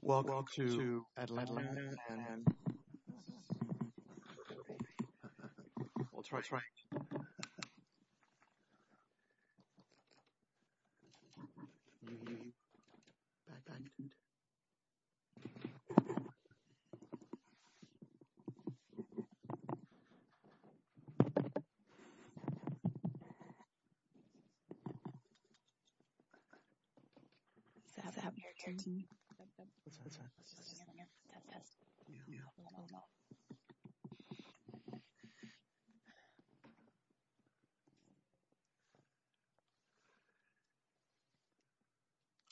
Welcome to Atlanta, and this is incredible. We'll try, try. We've abandoned.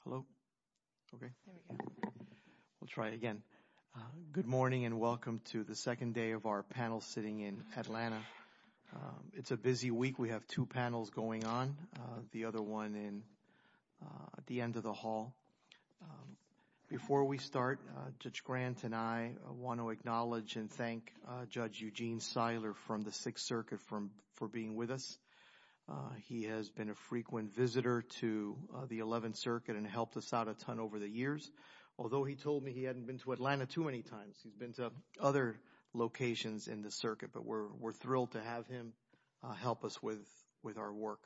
Hello. Okay. We'll try it again. Good morning and welcome to the second day of our panel sitting in Atlanta. It's a busy week. We have two panels going on, the other one at the end of the hall. Before we start, Judge Grant and I want to acknowledge and thank Judge Eugene Seiler from the Sixth Circuit for being with us. He has been a frequent visitor to the Eleventh Circuit and helped us out a ton over the years, although he told me he hadn't been to Atlanta too many times. He's been to other locations in the circuit, but we're thrilled to have him help us with our work.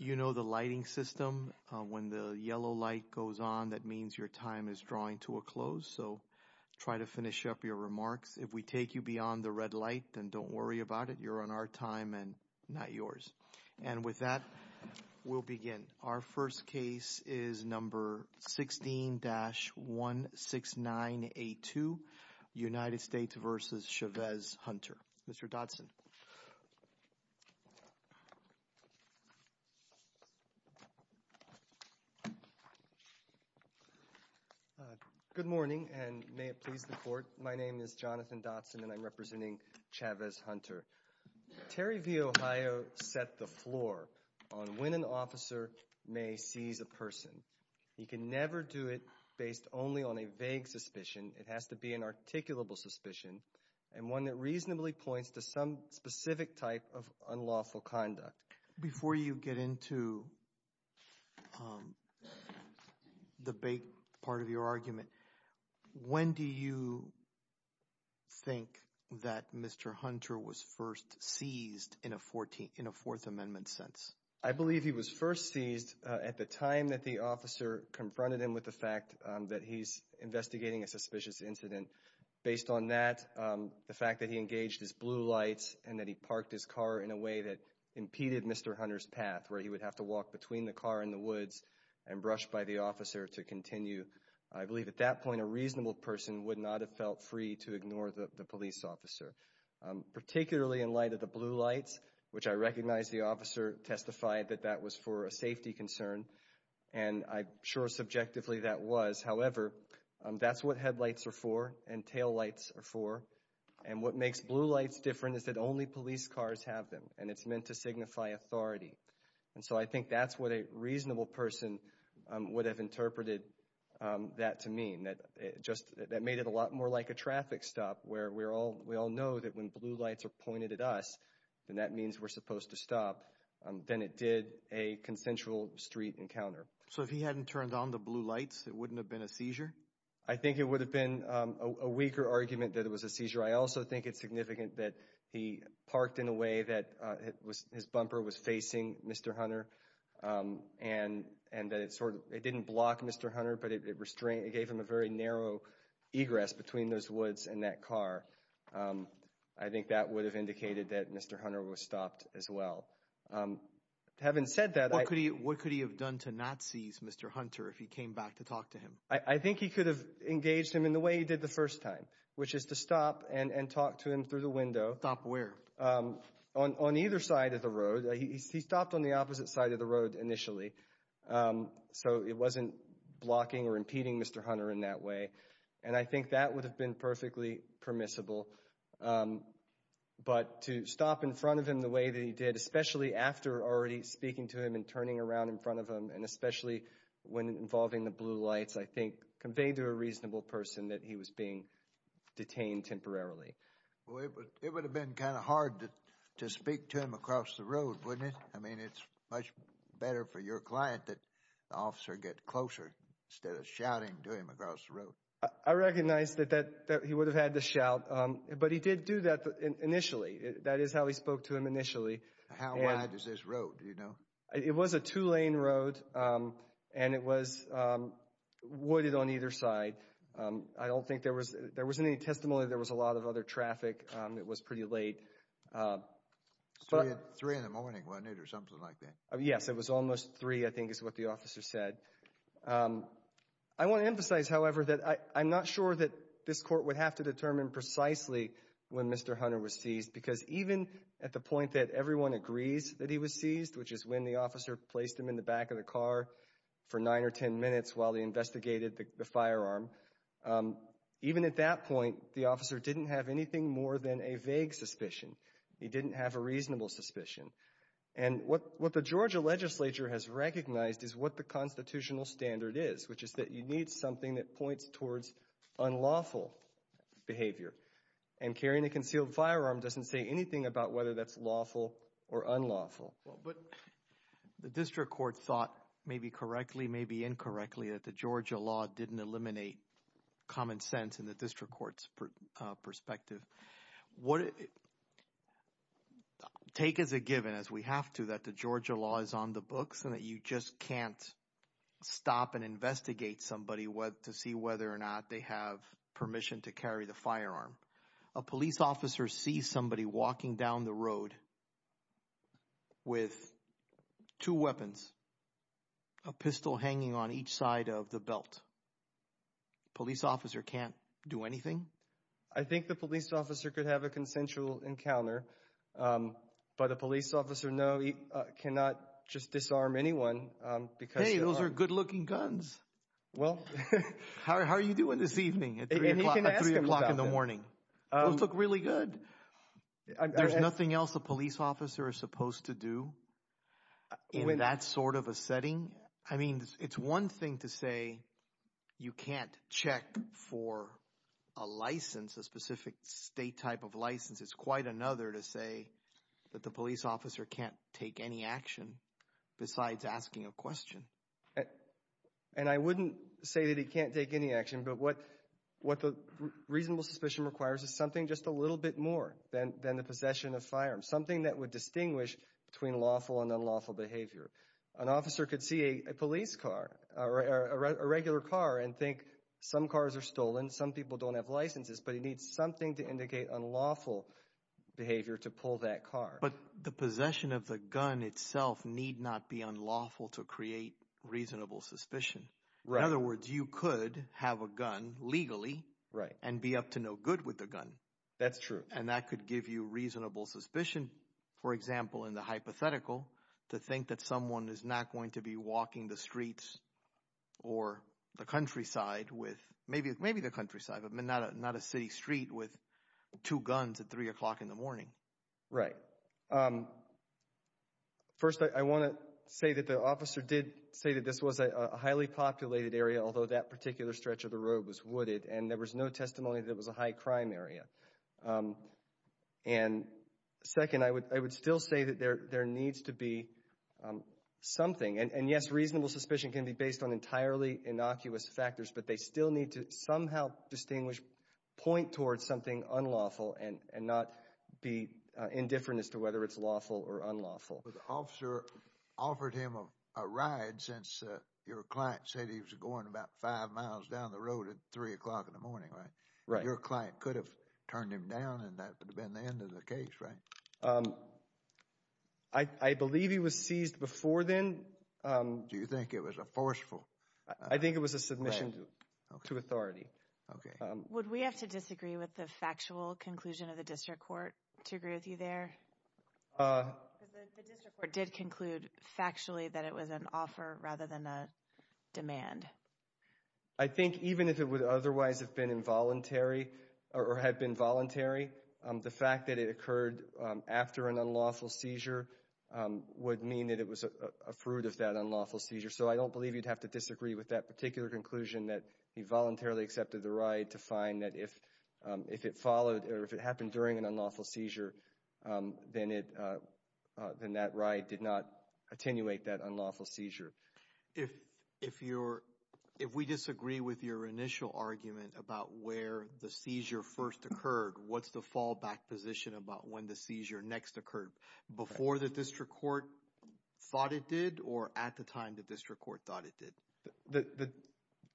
You know the lighting system. When the yellow light goes on, that means your time is drawing to a close, so try to finish up your remarks. If we take you beyond the red light, then don't worry about it. You're on our time and not yours. And with that, we'll begin. Our first case is number 16-16982, United States v. Chavez Hunter. Mr. Dodson. Good morning, and may it please the Court. My name is Jonathan Dodson, and I'm representing Chavez Hunter. Terry v. Ohio set the floor on when an officer may seize a person. You can never do it based only on a vague suspicion. It has to be an articulable suspicion and one that reasonably points to some specific type of unlawful conduct. Before you get into the vague part of your argument, when do you think that Mr. Hunter was first seized in a Fourth Amendment sense? I believe he was first seized at the time that the officer confronted him with the fact that he's investigating a suspicious incident. Based on that, the fact that he engaged his blue lights and that he parked his car in a way that impeded Mr. Hunter's path, where he would have to walk between the car and the woods and brush by the officer to continue, I believe at that point a reasonable person would not have felt free to ignore the police officer. Particularly in light of the blue lights, which I recognize the officer testified that that was for a safety concern, and I'm sure subjectively that was. However, that's what headlights are for and taillights are for. And what makes blue lights different is that only police cars have them, and it's meant to signify authority. And so I think that's what a reasonable person would have interpreted that to mean. That made it a lot more like a traffic stop where we all know that when blue lights are pointed at us, then that means we're supposed to stop. Then it did a consensual street encounter. So if he hadn't turned on the blue lights, it wouldn't have been a seizure? I think it would have been a weaker argument that it was a seizure. I also think it's significant that he parked in a way that his bumper was facing Mr. Hunter and that it didn't block Mr. Hunter, but it gave him a very narrow egress between those woods and that car. I think that would have indicated that Mr. Hunter was stopped as well. Having said that— What could he have done to not seize Mr. Hunter if he came back to talk to him? I think he could have engaged him in the way he did the first time, which is to stop and talk to him through the window. Stop where? On either side of the road. He stopped on the opposite side of the road initially, so it wasn't blocking or impeding Mr. Hunter in that way. And I think that would have been perfectly permissible. But to stop in front of him the way that he did, especially after already speaking to him and turning around in front of him, and especially when involving the blue lights, I think conveyed to a reasonable person that he was being detained temporarily. Well, it would have been kind of hard to speak to him across the road, wouldn't it? I mean, it's much better for your client that the officer get closer instead of shouting to him across the road. I recognize that he would have had to shout, but he did do that initially. That is how he spoke to him initially. How wide is this road, do you know? It was a two-lane road, and it was wooded on either side. I don't think there was any testimony. There was a lot of other traffic. It was pretty late. Three in the morning, wasn't it, or something like that? Yes, it was almost three, I think is what the officer said. I want to emphasize, however, that I'm not sure that this court would have to determine precisely when Mr. Hunter was seized because even at the point that everyone agrees that he was seized, which is when the officer placed him in the back of the car for nine or ten minutes while they investigated the firearm, even at that point, the officer didn't have anything more than a vague suspicion. He didn't have a reasonable suspicion. What the Georgia legislature has recognized is what the constitutional standard is, which is that you need something that points towards unlawful behavior, and carrying a concealed firearm doesn't say anything about whether that's lawful or unlawful. But the district court thought maybe correctly, maybe incorrectly, that the Georgia law didn't eliminate common sense in the district court's perspective. Take as a given, as we have to, that the Georgia law is on the books and that you just can't stop and investigate somebody to see whether or not they have permission to carry the firearm. A police officer sees somebody walking down the road with two weapons, a pistol hanging on each side of the belt. A police officer can't do anything? I think the police officer could have a consensual encounter, but a police officer cannot just disarm anyone. Hey, those are good-looking guns. Well, how are you doing this evening at 3 o'clock in the morning? Those look really good. There's nothing else a police officer is supposed to do in that sort of a setting? I mean, it's one thing to say you can't check for a license, a specific state type of license. It's quite another to say that the police officer can't take any action besides asking a question. And I wouldn't say that he can't take any action, but what the reasonable suspicion requires is something just a little bit more than the possession of firearms, something that would distinguish between lawful and unlawful behavior. An officer could see a police car, a regular car, and think some cars are stolen, some people don't have licenses, but he needs something to indicate unlawful behavior to pull that car. But the possession of the gun itself need not be unlawful to create reasonable suspicion. In other words, you could have a gun legally and be up to no good with the gun. That's true. And that could give you reasonable suspicion, for example, in the hypothetical, to think that someone is not going to be walking the streets or the countryside with—maybe the countryside, but not a city street with two guns at 3 o'clock in the morning. Right. First, I want to say that the officer did say that this was a highly populated area, although that particular stretch of the road was wooded, and there was no testimony that it was a high crime area. And second, I would still say that there needs to be something. And yes, reasonable suspicion can be based on entirely innocuous factors, but they still need to somehow distinguish, point towards something unlawful and not be indifferent as to whether it's lawful or unlawful. But the officer offered him a ride since your client said he was going about five miles down the road at 3 o'clock in the morning, right? Right. Your client could have turned him down, and that would have been the end of the case, right? I believe he was seized before then. Do you think it was a forceful— I think it was a submission to authority. Okay. Would we have to disagree with the factual conclusion of the district court to agree with you there? Because the district court did conclude factually that it was an offer rather than a demand. I think even if it would otherwise have been involuntary or had been voluntary, the fact that it occurred after an unlawful seizure would mean that it was a fruit of that unlawful seizure. So I don't believe you'd have to disagree with that particular conclusion that he voluntarily accepted the ride to find that if it followed or if it happened during an unlawful seizure, then that ride did not attenuate that unlawful seizure. If we disagree with your initial argument about where the seizure first occurred, what's the fallback position about when the seizure next occurred, before the district court thought it did or at the time the district court thought it did?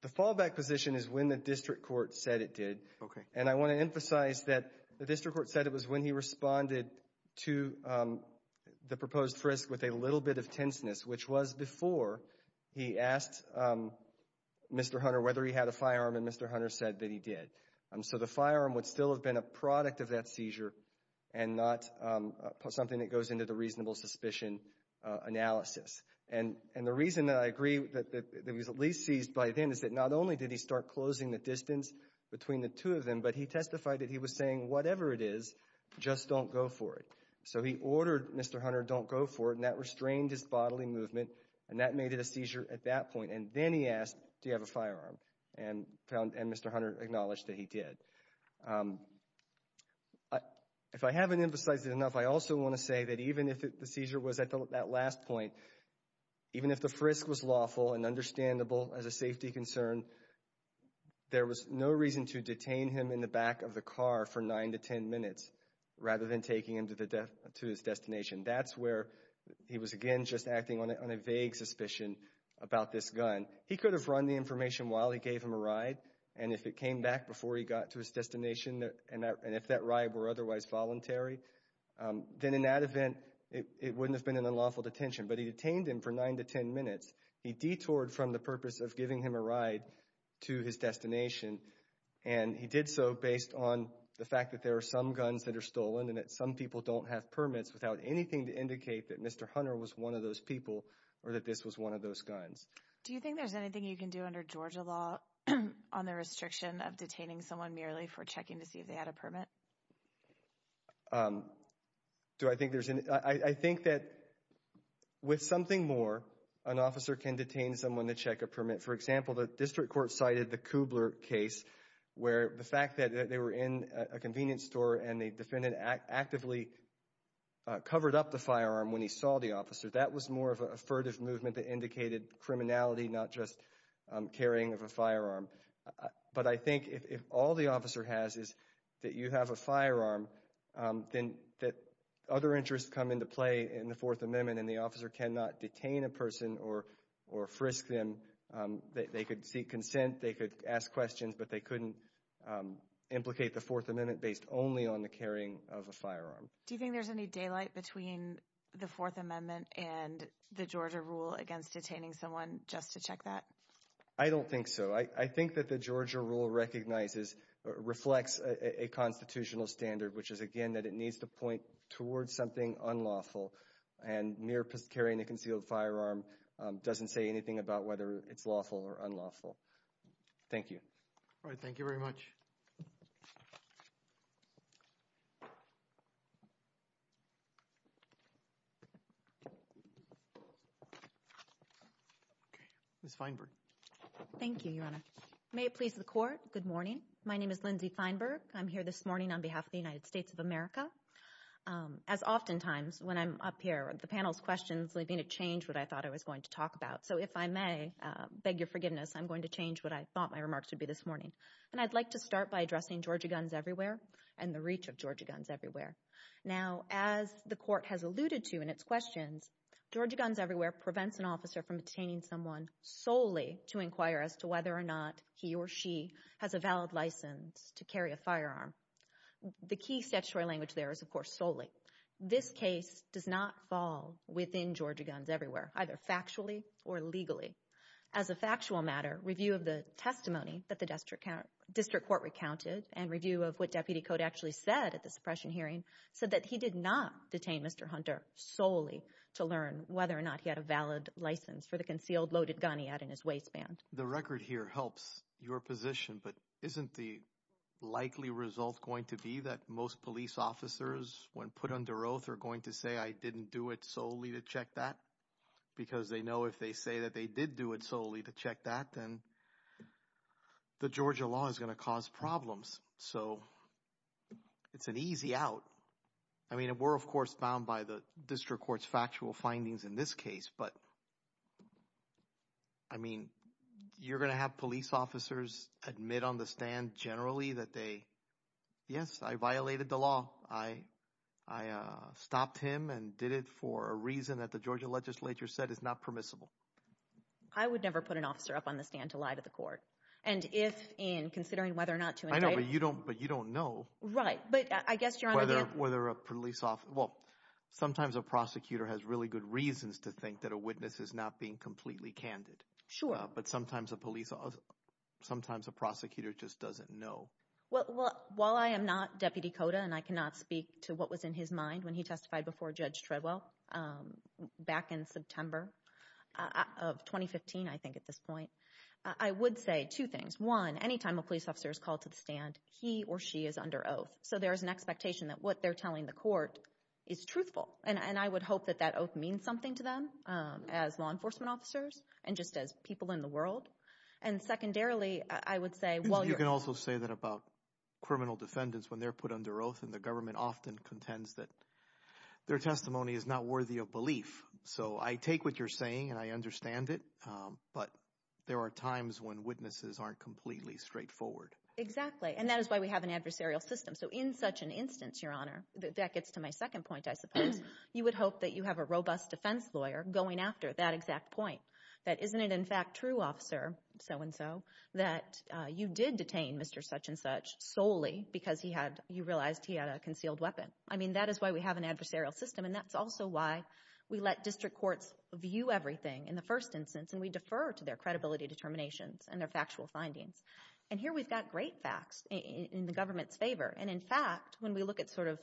The fallback position is when the district court said it did. Okay. And I want to emphasize that the district court said it was when he responded to the proposed risk with a little bit of tenseness, which was before he asked Mr. Hunter whether he had a firearm, and Mr. Hunter said that he did. So the firearm would still have been a product of that seizure and not something that goes into the reasonable suspicion analysis. And the reason that I agree that it was at least seized by then is that not only did he start closing the distance between the two of them, but he testified that he was saying, whatever it is, just don't go for it. So he ordered Mr. Hunter, don't go for it, and that restrained his bodily movement, and that made it a seizure at that point. And then he asked, do you have a firearm? And Mr. Hunter acknowledged that he did. If I haven't emphasized it enough, I also want to say that even if the seizure was at that last point, even if the frisk was lawful and understandable as a safety concern, there was no reason to detain him in the back of the car for 9 to 10 minutes rather than taking him to his destination. That's where he was, again, just acting on a vague suspicion about this gun. He could have run the information while he gave him a ride, and if it came back before he got to his destination and if that ride were otherwise voluntary, then in that event it wouldn't have been an unlawful detention. But he detained him for 9 to 10 minutes. He detoured from the purpose of giving him a ride to his destination, and he did so based on the fact that there are some guns that are stolen and that some people don't have permits without anything to indicate that Mr. Hunter was one of those people or that this was one of those guns. Do you think there's anything you can do under Georgia law on the restriction of detaining someone merely for checking to see if they had a permit? Do I think there's any? I think that with something more, an officer can detain someone to check a permit. For example, the district court cited the Kubler case where the fact that they were in a convenience store and the defendant actively covered up the firearm when he saw the officer, that was more of a furtive movement that indicated criminality, not just carrying of a firearm. But I think if all the officer has is that you have a firearm, then other interests come into play in the Fourth Amendment, and the officer cannot detain a person or frisk them. They could seek consent, they could ask questions, but they couldn't implicate the Fourth Amendment based only on the carrying of a firearm. Do you think there's any daylight between the Fourth Amendment and the Georgia rule against detaining someone just to check that? I don't think so. I think that the Georgia rule recognizes, reflects a constitutional standard, which is, again, that it needs to point towards something unlawful, and mere carrying a concealed firearm doesn't say anything about whether it's lawful or unlawful. Thank you. All right. Thank you very much. Ms. Feinberg. Thank you, Your Honor. May it please the Court, good morning. My name is Lindsay Feinberg. I'm here this morning on behalf of the United States of America. As oftentimes, when I'm up here, the panel's questions lead me to change what I thought I was going to talk about. So if I may beg your forgiveness, I'm going to change what I thought my remarks would be this morning. And I'd like to start by addressing Georgia Guns Everywhere and the reach of Georgia Guns Everywhere. Now, as the Court has alluded to in its questions, Georgia Guns Everywhere prevents an officer from detaining someone solely to inquire as to whether or not he or she has a valid license to carry a firearm. The key statutory language there is, of course, solely. This case does not fall within Georgia Guns Everywhere, either factually or legally. As a factual matter, review of the testimony that the district court recounted and review of what Deputy Cote actually said at the suppression hearing said that he did not detain Mr. Hunter solely to learn whether or not he had a valid license for the concealed loaded gun he had in his waistband. The record here helps your position, but isn't the likely result going to be that most police officers, when put under oath, are going to say, I didn't do it solely to check that? Because they know if they say that they did do it solely to check that, then the Georgia law is going to cause problems. So it's an easy out. I mean, we're, of course, bound by the district court's factual findings in this case. But, I mean, you're going to have police officers admit on the stand generally that they, yes, I violated the law. I stopped him and did it for a reason that the Georgia legislature said is not permissible. I would never put an officer up on the stand to lie to the court. And if in considering whether or not to indict him. I know, but you don't know. Right, but I guess you're on a gamble. Well, sometimes a prosecutor has really good reasons to think that a witness is not being completely candid. Sure. But sometimes a police officer, sometimes a prosecutor just doesn't know. Well, while I am not Deputy Cota and I cannot speak to what was in his mind when he testified before Judge Treadwell back in September of 2015, I think at this point, I would say two things. One, any time a police officer is called to the stand, he or she is under oath. So there is an expectation that what they're telling the court is truthful. And I would hope that that oath means something to them as law enforcement officers and just as people in the world. And secondarily, I would say while you're… You can also say that about criminal defendants when they're put under oath and the government often contends that their testimony is not worthy of belief. So I take what you're saying and I understand it, but there are times when witnesses aren't completely straightforward. Exactly, and that is why we have an adversarial system. So in such an instance, Your Honor, that gets to my second point I suppose, you would hope that you have a robust defense lawyer going after that exact point. That isn't it in fact true, Officer So-and-So, that you did detain Mr. Such-and-Such solely because he had – you realized he had a concealed weapon. I mean that is why we have an adversarial system and that's also why we let district courts view everything in the first instance and we defer to their credibility determinations and their factual findings. And here we've got great facts in the government's favor. And in fact, when we look at sort of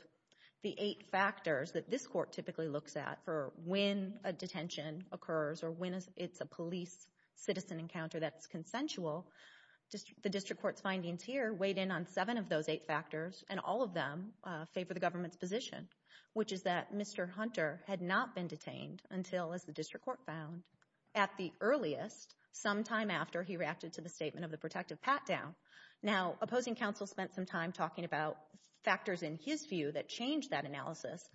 the eight factors that this court typically looks at for when a detention occurs or when it's a police-citizen encounter that's consensual, the district court's findings here weighed in on seven of those eight factors and all of them favor the government's position, which is that Mr. Hunter had not been detained until, as the district court found, at the earliest, sometime after he reacted to the statement of the protective pat-down. Now, opposing counsel spent some time talking about factors in his view that changed that analysis,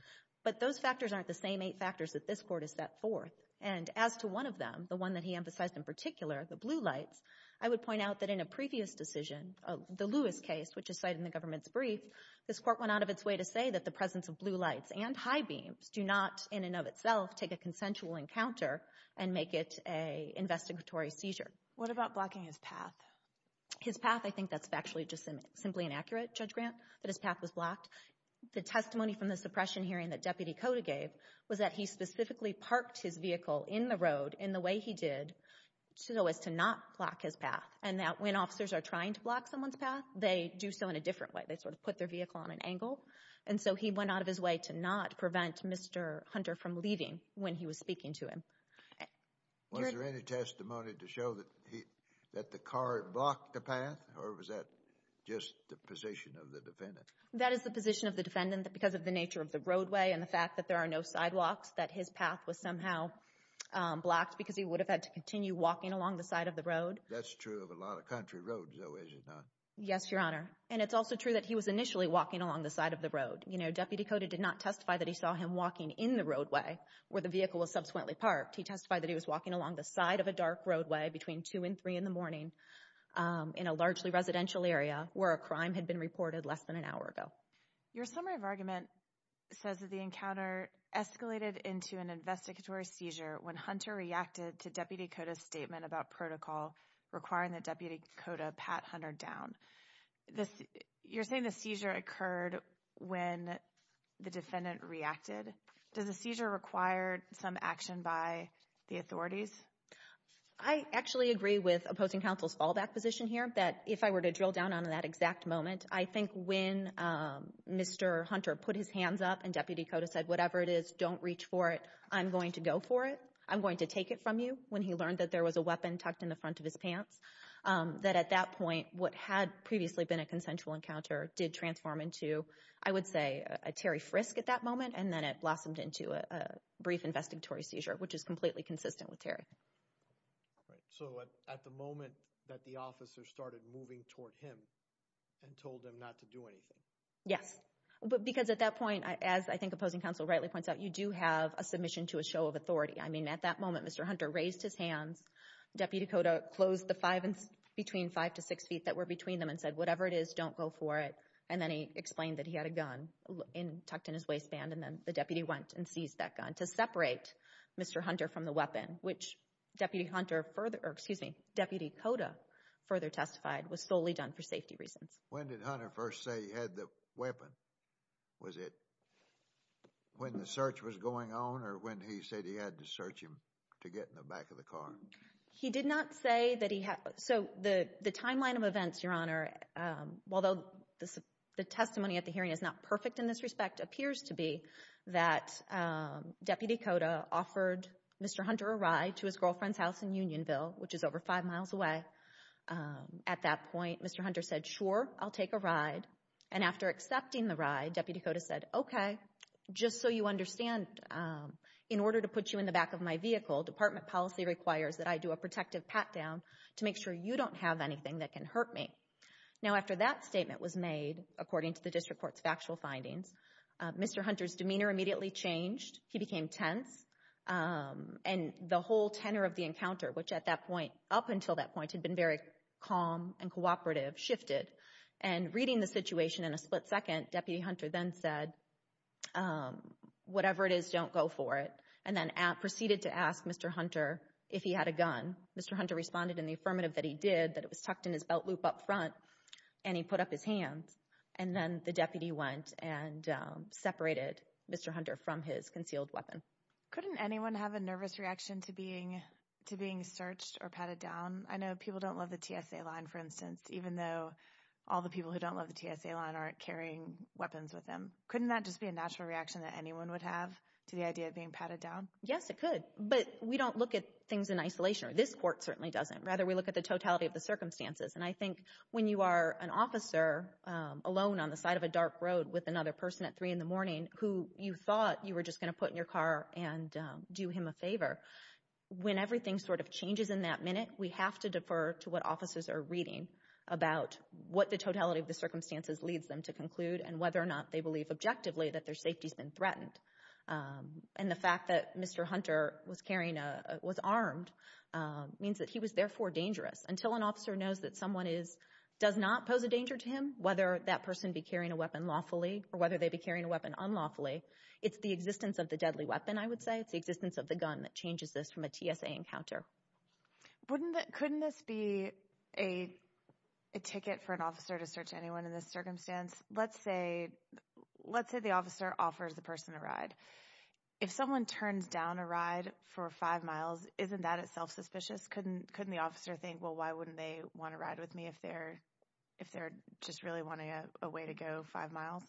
but those factors aren't the same eight factors that this court has set forth. And as to one of them, the one that he emphasized in particular, the blue lights, I would point out that in a previous decision, the Lewis case, which is cited in the government's brief, this court went out of its way to say that the presence of blue lights and high beams do not in and of itself take a consensual encounter and make it an investigatory seizure. What about blocking his path? His path, I think that's factually just simply inaccurate, Judge Grant, that his path was blocked. The testimony from the suppression hearing that Deputy Cota gave was that he specifically parked his vehicle in the road in the way he did so as to not block his path, and that when officers are trying to block someone's path, they do so in a different way. They sort of put their vehicle on an angle. And so he went out of his way to not prevent Mr. Hunter from leaving when he was speaking to him. Was there any testimony to show that the car had blocked the path, or was that just the position of the defendant? That is the position of the defendant because of the nature of the roadway and the fact that there are no sidewalks, that his path was somehow blocked because he would have had to continue walking along the side of the road. That's true of a lot of country roads, though, is it not? Yes, Your Honor. And it's also true that he was initially walking along the side of the road. You know, Deputy Cota did not testify that he saw him walking in the roadway where the vehicle was subsequently parked. He testified that he was walking along the side of a dark roadway between 2 and 3 in the morning in a largely residential area where a crime had been reported less than an hour ago. Your summary of argument says that the encounter escalated into an investigatory seizure when Hunter reacted to Deputy Cota's statement about protocol requiring that Deputy Cota pat Hunter down. You're saying the seizure occurred when the defendant reacted. Does the seizure require some action by the authorities? I actually agree with opposing counsel's fallback position here that if I were to drill down on that exact moment, I think when Mr. Hunter put his hands up and Deputy Cota said, whatever it is, don't reach for it, I'm going to go for it, I'm going to take it from you, when he learned that there was a weapon tucked in the front of his pants, that at that point what had previously been a consensual encounter did transform into, I would say, a Terry frisk at that moment, and then it blossomed into a brief investigatory seizure, which is completely consistent with Terry. So at the moment that the officer started moving toward him and told him not to do anything? Yes, because at that point, as I think opposing counsel rightly points out, you do have a submission to a show of authority. I mean, at that moment, Mr. Hunter raised his hands. Deputy Cota closed the five and between five to six feet that were between them and said, whatever it is, don't go for it, and then he explained that he had a gun tucked in his waistband, and then the deputy went and seized that gun to separate Mr. Hunter from the weapon, which Deputy Cota further testified was solely done for safety reasons. When did Hunter first say he had the weapon? Was it when the search was going on or when he said he had to search him to get in the back of the car? He did not say that he had. So the timeline of events, Your Honor, although the testimony at the hearing is not perfect in this respect, appears to be that Deputy Cota offered Mr. Hunter a ride to his girlfriend's house in Unionville, which is over five miles away. At that point, Mr. Hunter said, sure, I'll take a ride, and after accepting the ride, Deputy Cota said, okay, just so you understand, in order to put you in the back of my vehicle, department policy requires that I do a protective pat-down to make sure you don't have anything that can hurt me. Now, after that statement was made, according to the district court's factual findings, Mr. Hunter's demeanor immediately changed. He became tense, and the whole tenor of the encounter, which at that point, up until that point, had been very calm and cooperative, shifted, and reading the situation in a split second, Deputy Hunter then said, whatever it is, don't go for it, and then proceeded to ask Mr. Hunter if he had a gun. Mr. Hunter responded in the affirmative that he did, that it was tucked in his belt loop up front, and he put up his hands, and then the deputy went and separated Mr. Hunter from his concealed weapon. Couldn't anyone have a nervous reaction to being searched or patted down? I know people don't love the TSA line, for instance, even though all the people who don't love the TSA line aren't carrying weapons with them. Couldn't that just be a natural reaction that anyone would have to the idea of being patted down? Yes, it could, but we don't look at things in isolation, or this court certainly doesn't. Rather, we look at the totality of the circumstances, and I think when you are an officer alone on the side of a dark road with another person at 3 in the morning who you thought you were just going to put in your car and do him a favor, when everything sort of changes in that minute, we have to defer to what officers are reading about what the totality of the circumstances leads them to conclude and whether or not they believe objectively that their safety has been threatened. And the fact that Mr. Hunter was carrying a, was armed means that he was therefore dangerous. Until an officer knows that someone is, does not pose a danger to him, whether that person be carrying a weapon lawfully or whether they be carrying a weapon unlawfully, it's the existence of the deadly weapon, I would say. It's the existence of the gun that changes this from a TSA encounter. Wouldn't, couldn't this be a ticket for an officer to search anyone in this circumstance? Let's say, let's say the officer offers the person a ride. If someone turns down a ride for 5 miles, isn't that itself suspicious? Couldn't, couldn't the officer think, well, why wouldn't they want a ride with me if they're, if they're just really wanting a way to go 5 miles?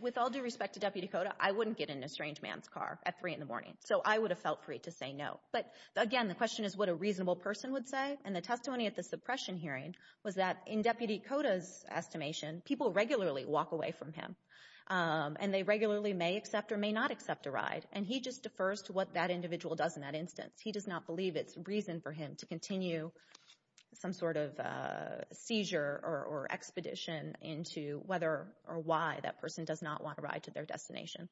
With all due respect to Deputy Cota, I wouldn't get in a strange man's car at 3 in the morning, so I would have felt free to say no. But, again, the question is what a reasonable person would say, and the testimony at the suppression hearing was that in Deputy Cota's estimation, people regularly walk away from him, and they regularly may accept or may not accept a ride, and he just defers to what that individual does in that instance. He does not believe it's reason for him to continue some sort of seizure or expedition into whether or why that person does not want a ride to their destination.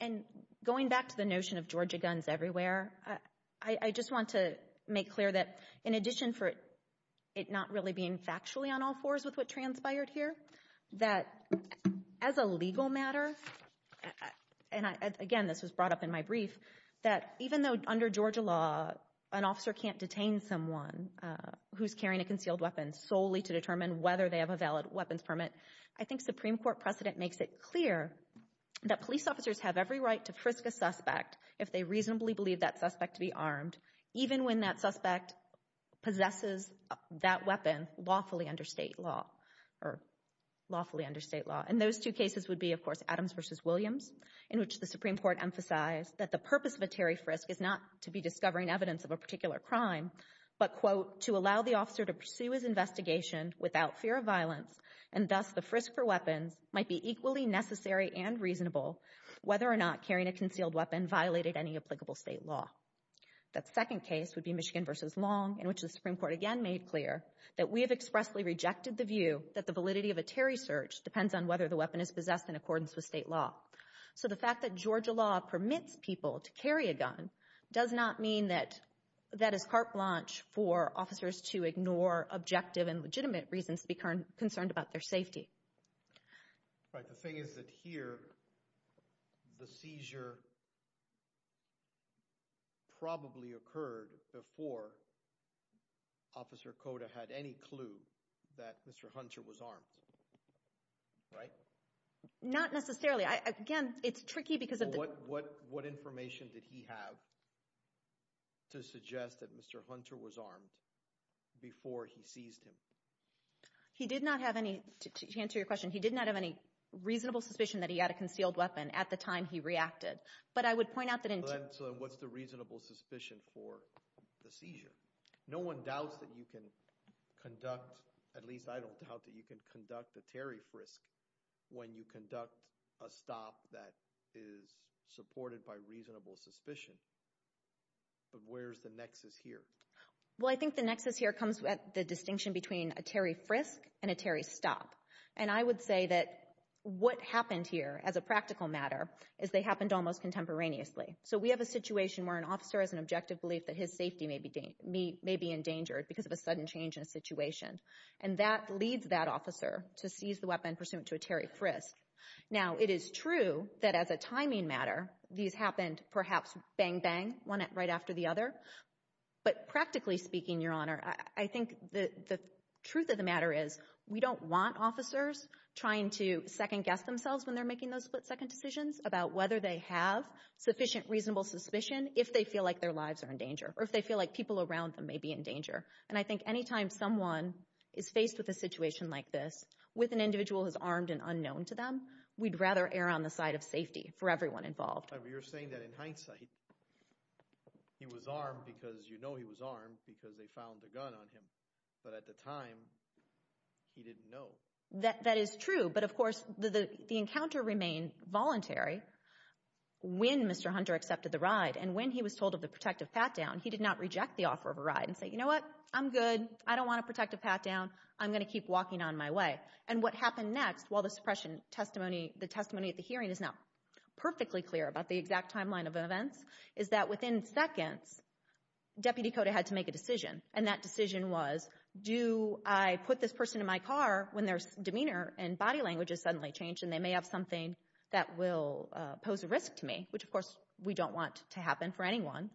And going back to the notion of Georgia guns everywhere, I just want to make clear that in addition for it not really being factually on all fours with what transpired here, that as a legal matter, and, again, this was brought up in my brief, that even though under Georgia law an officer can't detain someone who's carrying a concealed weapon solely to determine whether they have a valid weapons permit, I think Supreme Court precedent makes it clear that police officers have every right to frisk a suspect if they reasonably believe that suspect to be armed, even when that suspect possesses that weapon lawfully under state law. And those two cases would be, of course, Adams v. Williams, in which the Supreme Court emphasized that the purpose of a Terry frisk is not to be discovering evidence of a particular crime, but, quote, to allow the officer to pursue his investigation without fear of violence, and thus the frisk for weapons might be equally necessary and reasonable whether or not carrying a concealed weapon violated any applicable state law. That second case would be Michigan v. Long, in which the Supreme Court again made clear that we have expressly rejected the view that the validity of a Terry search depends on whether the weapon is possessed in accordance with state law. So the fact that Georgia law permits people to carry a gun does not mean that that is carte blanche for officers to ignore objective and legitimate reasons to be concerned about their safety. All right. The thing is that here the seizure probably occurred before Officer Cota had any clue that Mr. Hunter was armed, right? Not necessarily. Again, it's tricky because— What information did he have to suggest that Mr. Hunter was armed before he seized him? He did not have any—to answer your question, he did not have any reasonable suspicion that he had a concealed weapon at the time he reacted, but I would point out that in— So what's the reasonable suspicion for the seizure? No one doubts that you can conduct—at least I don't doubt that you can conduct a Terry frisk when you conduct a stop that is supported by reasonable suspicion. But where's the nexus here? Well, I think the nexus here comes at the distinction between a Terry frisk and a Terry stop. And I would say that what happened here as a practical matter is they happened almost contemporaneously. So we have a situation where an officer has an objective belief that his safety may be endangered because of a sudden change in a situation, and that leads that officer to seize the weapon pursuant to a Terry frisk. Now, it is true that as a timing matter these happened perhaps bang, bang, one right after the other, but practically speaking, Your Honor, I think the truth of the matter is we don't want officers trying to second-guess themselves when they're making those split-second decisions about whether they have sufficient reasonable suspicion if they feel like their lives are in danger or if they feel like people around them may be in danger. And I think anytime someone is faced with a situation like this with an individual who's armed and unknown to them, we'd rather err on the side of safety for everyone involved. Well, you're saying that in hindsight he was armed because you know he was armed because they found a gun on him, but at the time he didn't know. That is true, but of course the encounter remained voluntary when Mr. Hunter accepted the ride. And when he was told of the protective pat-down, he did not reject the offer of a ride and say, You know what? I'm good. I don't want a protective pat-down. I'm going to keep walking on my way. And what happened next, while the testimony at the hearing is not perfectly clear about the exact timeline of events, is that within seconds Deputy Cota had to make a decision. And that decision was, Do I put this person in my car when their demeanor and body language is suddenly changed and they may have something that will pose a risk to me, which of course we don't want to happen for anyone,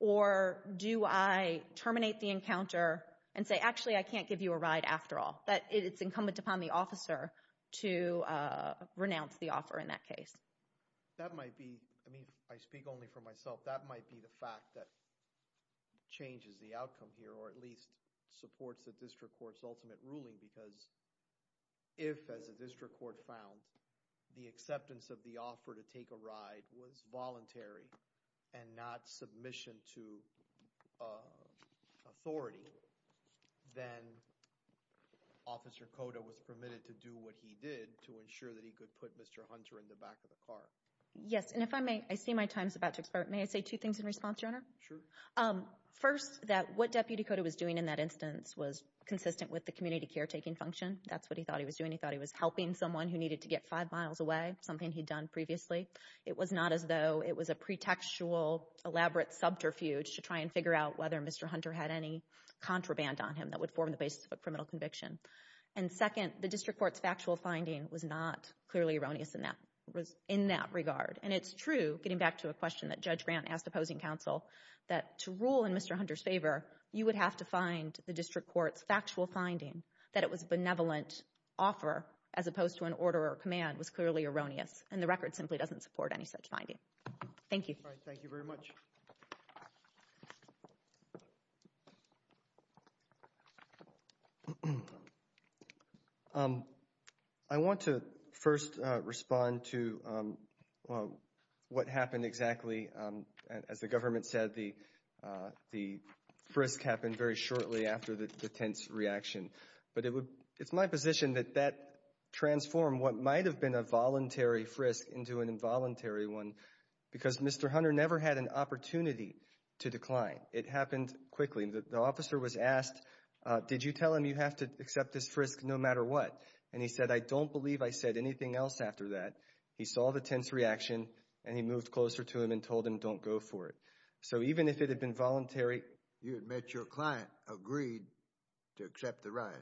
or do I terminate the encounter and say, Actually, I can't give you a ride after all. It's incumbent upon the officer to renounce the offer in that case. That might be, I mean I speak only for myself, that might be the fact that changes the outcome here or at least supports the district court's ultimate ruling because if, as the district court found, the acceptance of the offer to take a ride was voluntary and not submission to authority, then Officer Cota was permitted to do what he did to ensure that he could put Mr. Hunter in the back of the car. Yes, and if I may, I see my time's about to expire. May I say two things in response, Your Honor? Sure. First, that what Deputy Cota was doing in that instance was consistent with the community caretaking function. That's what he thought he was doing. He thought he was helping someone who needed to get five miles away, something he'd done previously. It was not as though it was a pretextual elaborate subterfuge to try and figure out whether Mr. Hunter had any contraband on him that would form the basis of a criminal conviction. And second, the district court's factual finding was not clearly erroneous in that regard. And it's true, getting back to a question that Judge Grant asked opposing counsel, that to rule in Mr. Hunter's favor, you would have to find the district court's factual finding that it was a benevolent offer as opposed to an order or command was clearly erroneous, and the record simply doesn't support any such finding. Thank you. All right. Thank you very much. I want to first respond to what happened exactly. As the government said, the frisk happened very shortly after the tense reaction. But it's my position that that transformed what might have been a voluntary frisk into an involuntary one because Mr. Hunter never had an opportunity to decline. It happened quickly. The officer was asked, did you tell him you have to accept this frisk no matter what? And he said, I don't believe I said anything else after that. He saw the tense reaction and he moved closer to him and told him, don't go for it. So even if it had been voluntary. You admit your client agreed to accept the ride,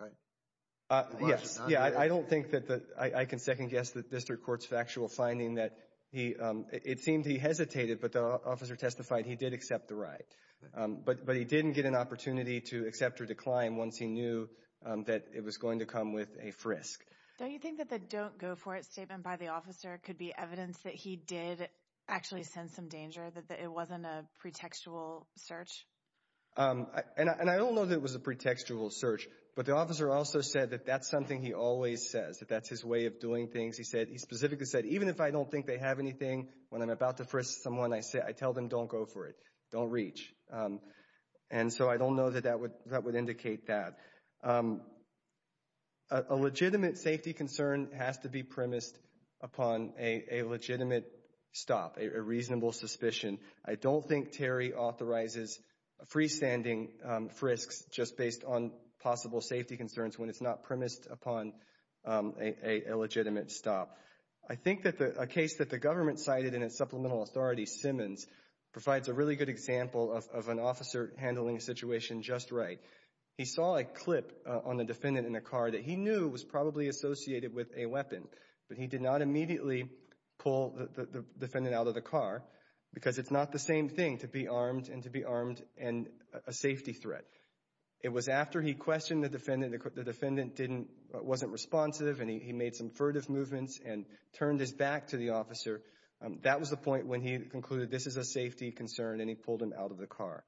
right? Yes. Yeah, I don't think that I can second guess the district court's factual finding that it seemed he hesitated, but the officer testified he did accept the ride. But he didn't get an opportunity to accept or decline once he knew that it was going to come with a frisk. Don't you think that the don't go for it statement by the officer could be evidence that he did actually sense some danger, that it wasn't a pretextual search? And I don't know that it was a pretextual search, but the officer also said that that's something he always says, that that's his way of doing things. He specifically said, even if I don't think they have anything, when I'm about to frisk someone, I tell them don't go for it. Don't reach. And so I don't know that that would indicate that. A legitimate safety concern has to be premised upon a legitimate stop, a reasonable suspicion. I don't think Terry authorizes freestanding frisks just based on possible safety concerns when it's not premised upon a legitimate stop. I think that a case that the government cited in its supplemental authority, Simmons, provides a really good example of an officer handling a situation just right. He saw a clip on a defendant in a car that he knew was probably associated with a weapon, but he did not immediately pull the defendant out of the car because it's not the same thing to be armed and to be armed and a safety threat. It was after he questioned the defendant. The defendant wasn't responsive, and he made some furtive movements and turned his back to the officer. That was the point when he concluded this is a safety concern, and he pulled him out of the car.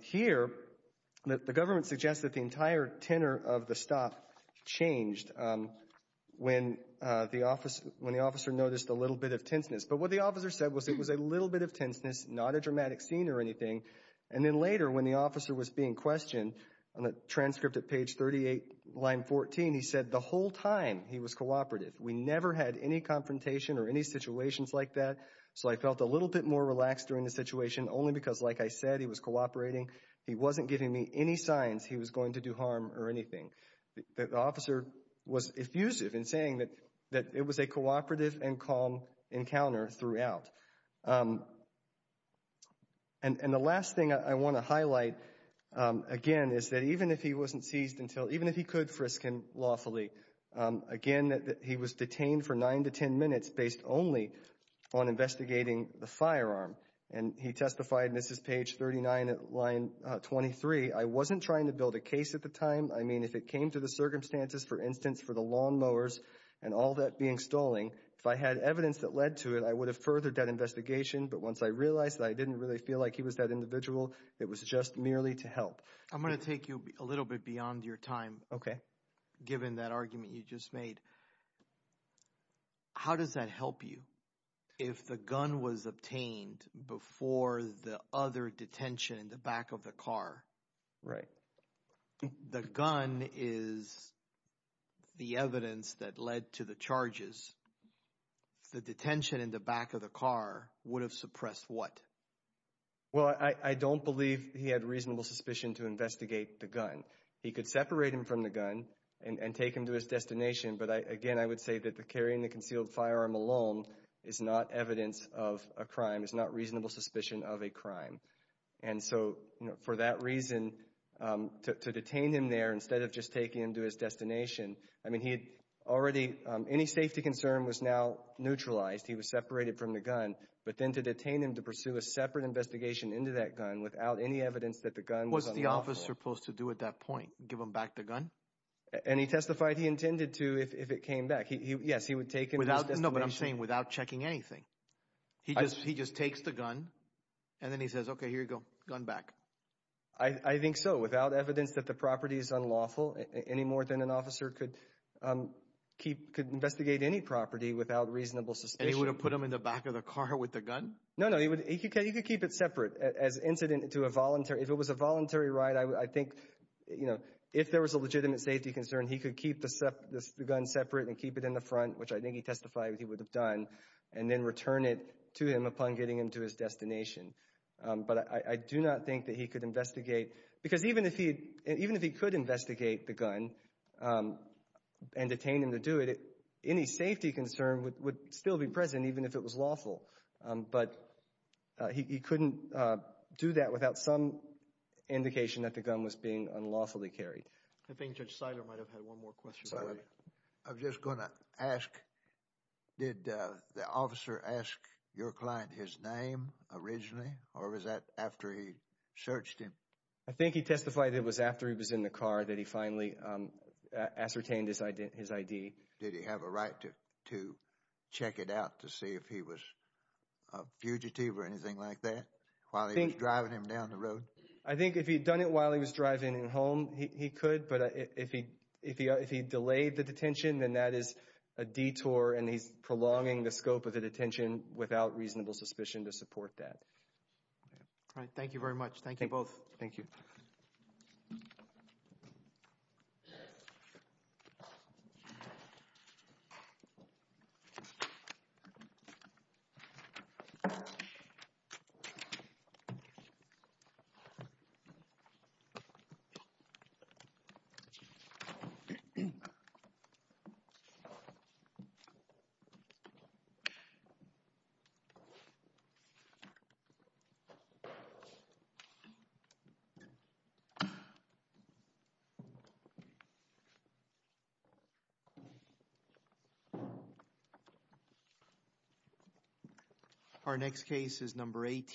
Here, the government suggests that the entire tenor of the stop changed when the officer noticed a little bit of tenseness. But what the officer said was it was a little bit of tenseness, not a dramatic scene or anything. And then later, when the officer was being questioned on the transcript at page 38, line 14, he said the whole time he was cooperative. We never had any confrontation or any situations like that. So I felt a little bit more relaxed during the situation only because, like I said, he was cooperating. He wasn't giving me any signs he was going to do harm or anything. The officer was effusive in saying that it was a cooperative and calm encounter throughout. And the last thing I want to highlight, again, is that even if he wasn't seized until – even if he could frisk him lawfully, again, he was detained for nine to ten minutes based only on investigating the firearm. And he testified – and this is page 39, line 23 – I wasn't trying to build a case at the time. I mean, if it came to the circumstances, for instance, for the lawnmowers and all that being stalling, if I had evidence that led to it, I would have furthered that investigation. But once I realized that I didn't really feel like he was that individual, it was just merely to help. I'm going to take you a little bit beyond your time given that argument you just made. How does that help you if the gun was obtained before the other detention in the back of the car? The gun is the evidence that led to the charges. The detention in the back of the car would have suppressed what? Well, I don't believe he had reasonable suspicion to investigate the gun. He could separate him from the gun and take him to his destination. But, again, I would say that carrying the concealed firearm alone is not evidence of a crime, is not reasonable suspicion of a crime. And so for that reason, to detain him there instead of just taking him to his destination, I mean, he had already – but then to detain him to pursue a separate investigation into that gun without any evidence that the gun was unlawful. What's the officer supposed to do at that point, give him back the gun? And he testified he intended to if it came back. Yes, he would take him to his destination. No, but I'm saying without checking anything. He just takes the gun and then he says, okay, here you go, gun back. I think so, without evidence that the property is unlawful, any more than an officer could investigate any property without reasonable suspicion. And he would have put him in the back of the car with the gun? No, no, he could keep it separate as incident to a voluntary – if it was a voluntary ride, I think if there was a legitimate safety concern, he could keep the gun separate and keep it in the front, which I think he testified he would have done, and then return it to him upon getting him to his destination. But I do not think that he could investigate because even if he could investigate the gun and detain him to do it, any safety concern would still be present even if it was lawful. But he couldn't do that without some indication that the gun was being unlawfully carried. I think Judge Seiler might have had one more question. I'm just going to ask, did the officer ask your client his name originally or was that after he searched him? I think he testified it was after he was in the car that he finally ascertained his ID. Did he have a right to check it out to see if he was a fugitive or anything like that while he was driving him down the road? I think if he had done it while he was driving him home, he could, but if he delayed the detention, then that is a detour and he's prolonging the scope of the detention without reasonable suspicion to support that. All right. Thank you very much. Thank you both. Thank you. Thank you.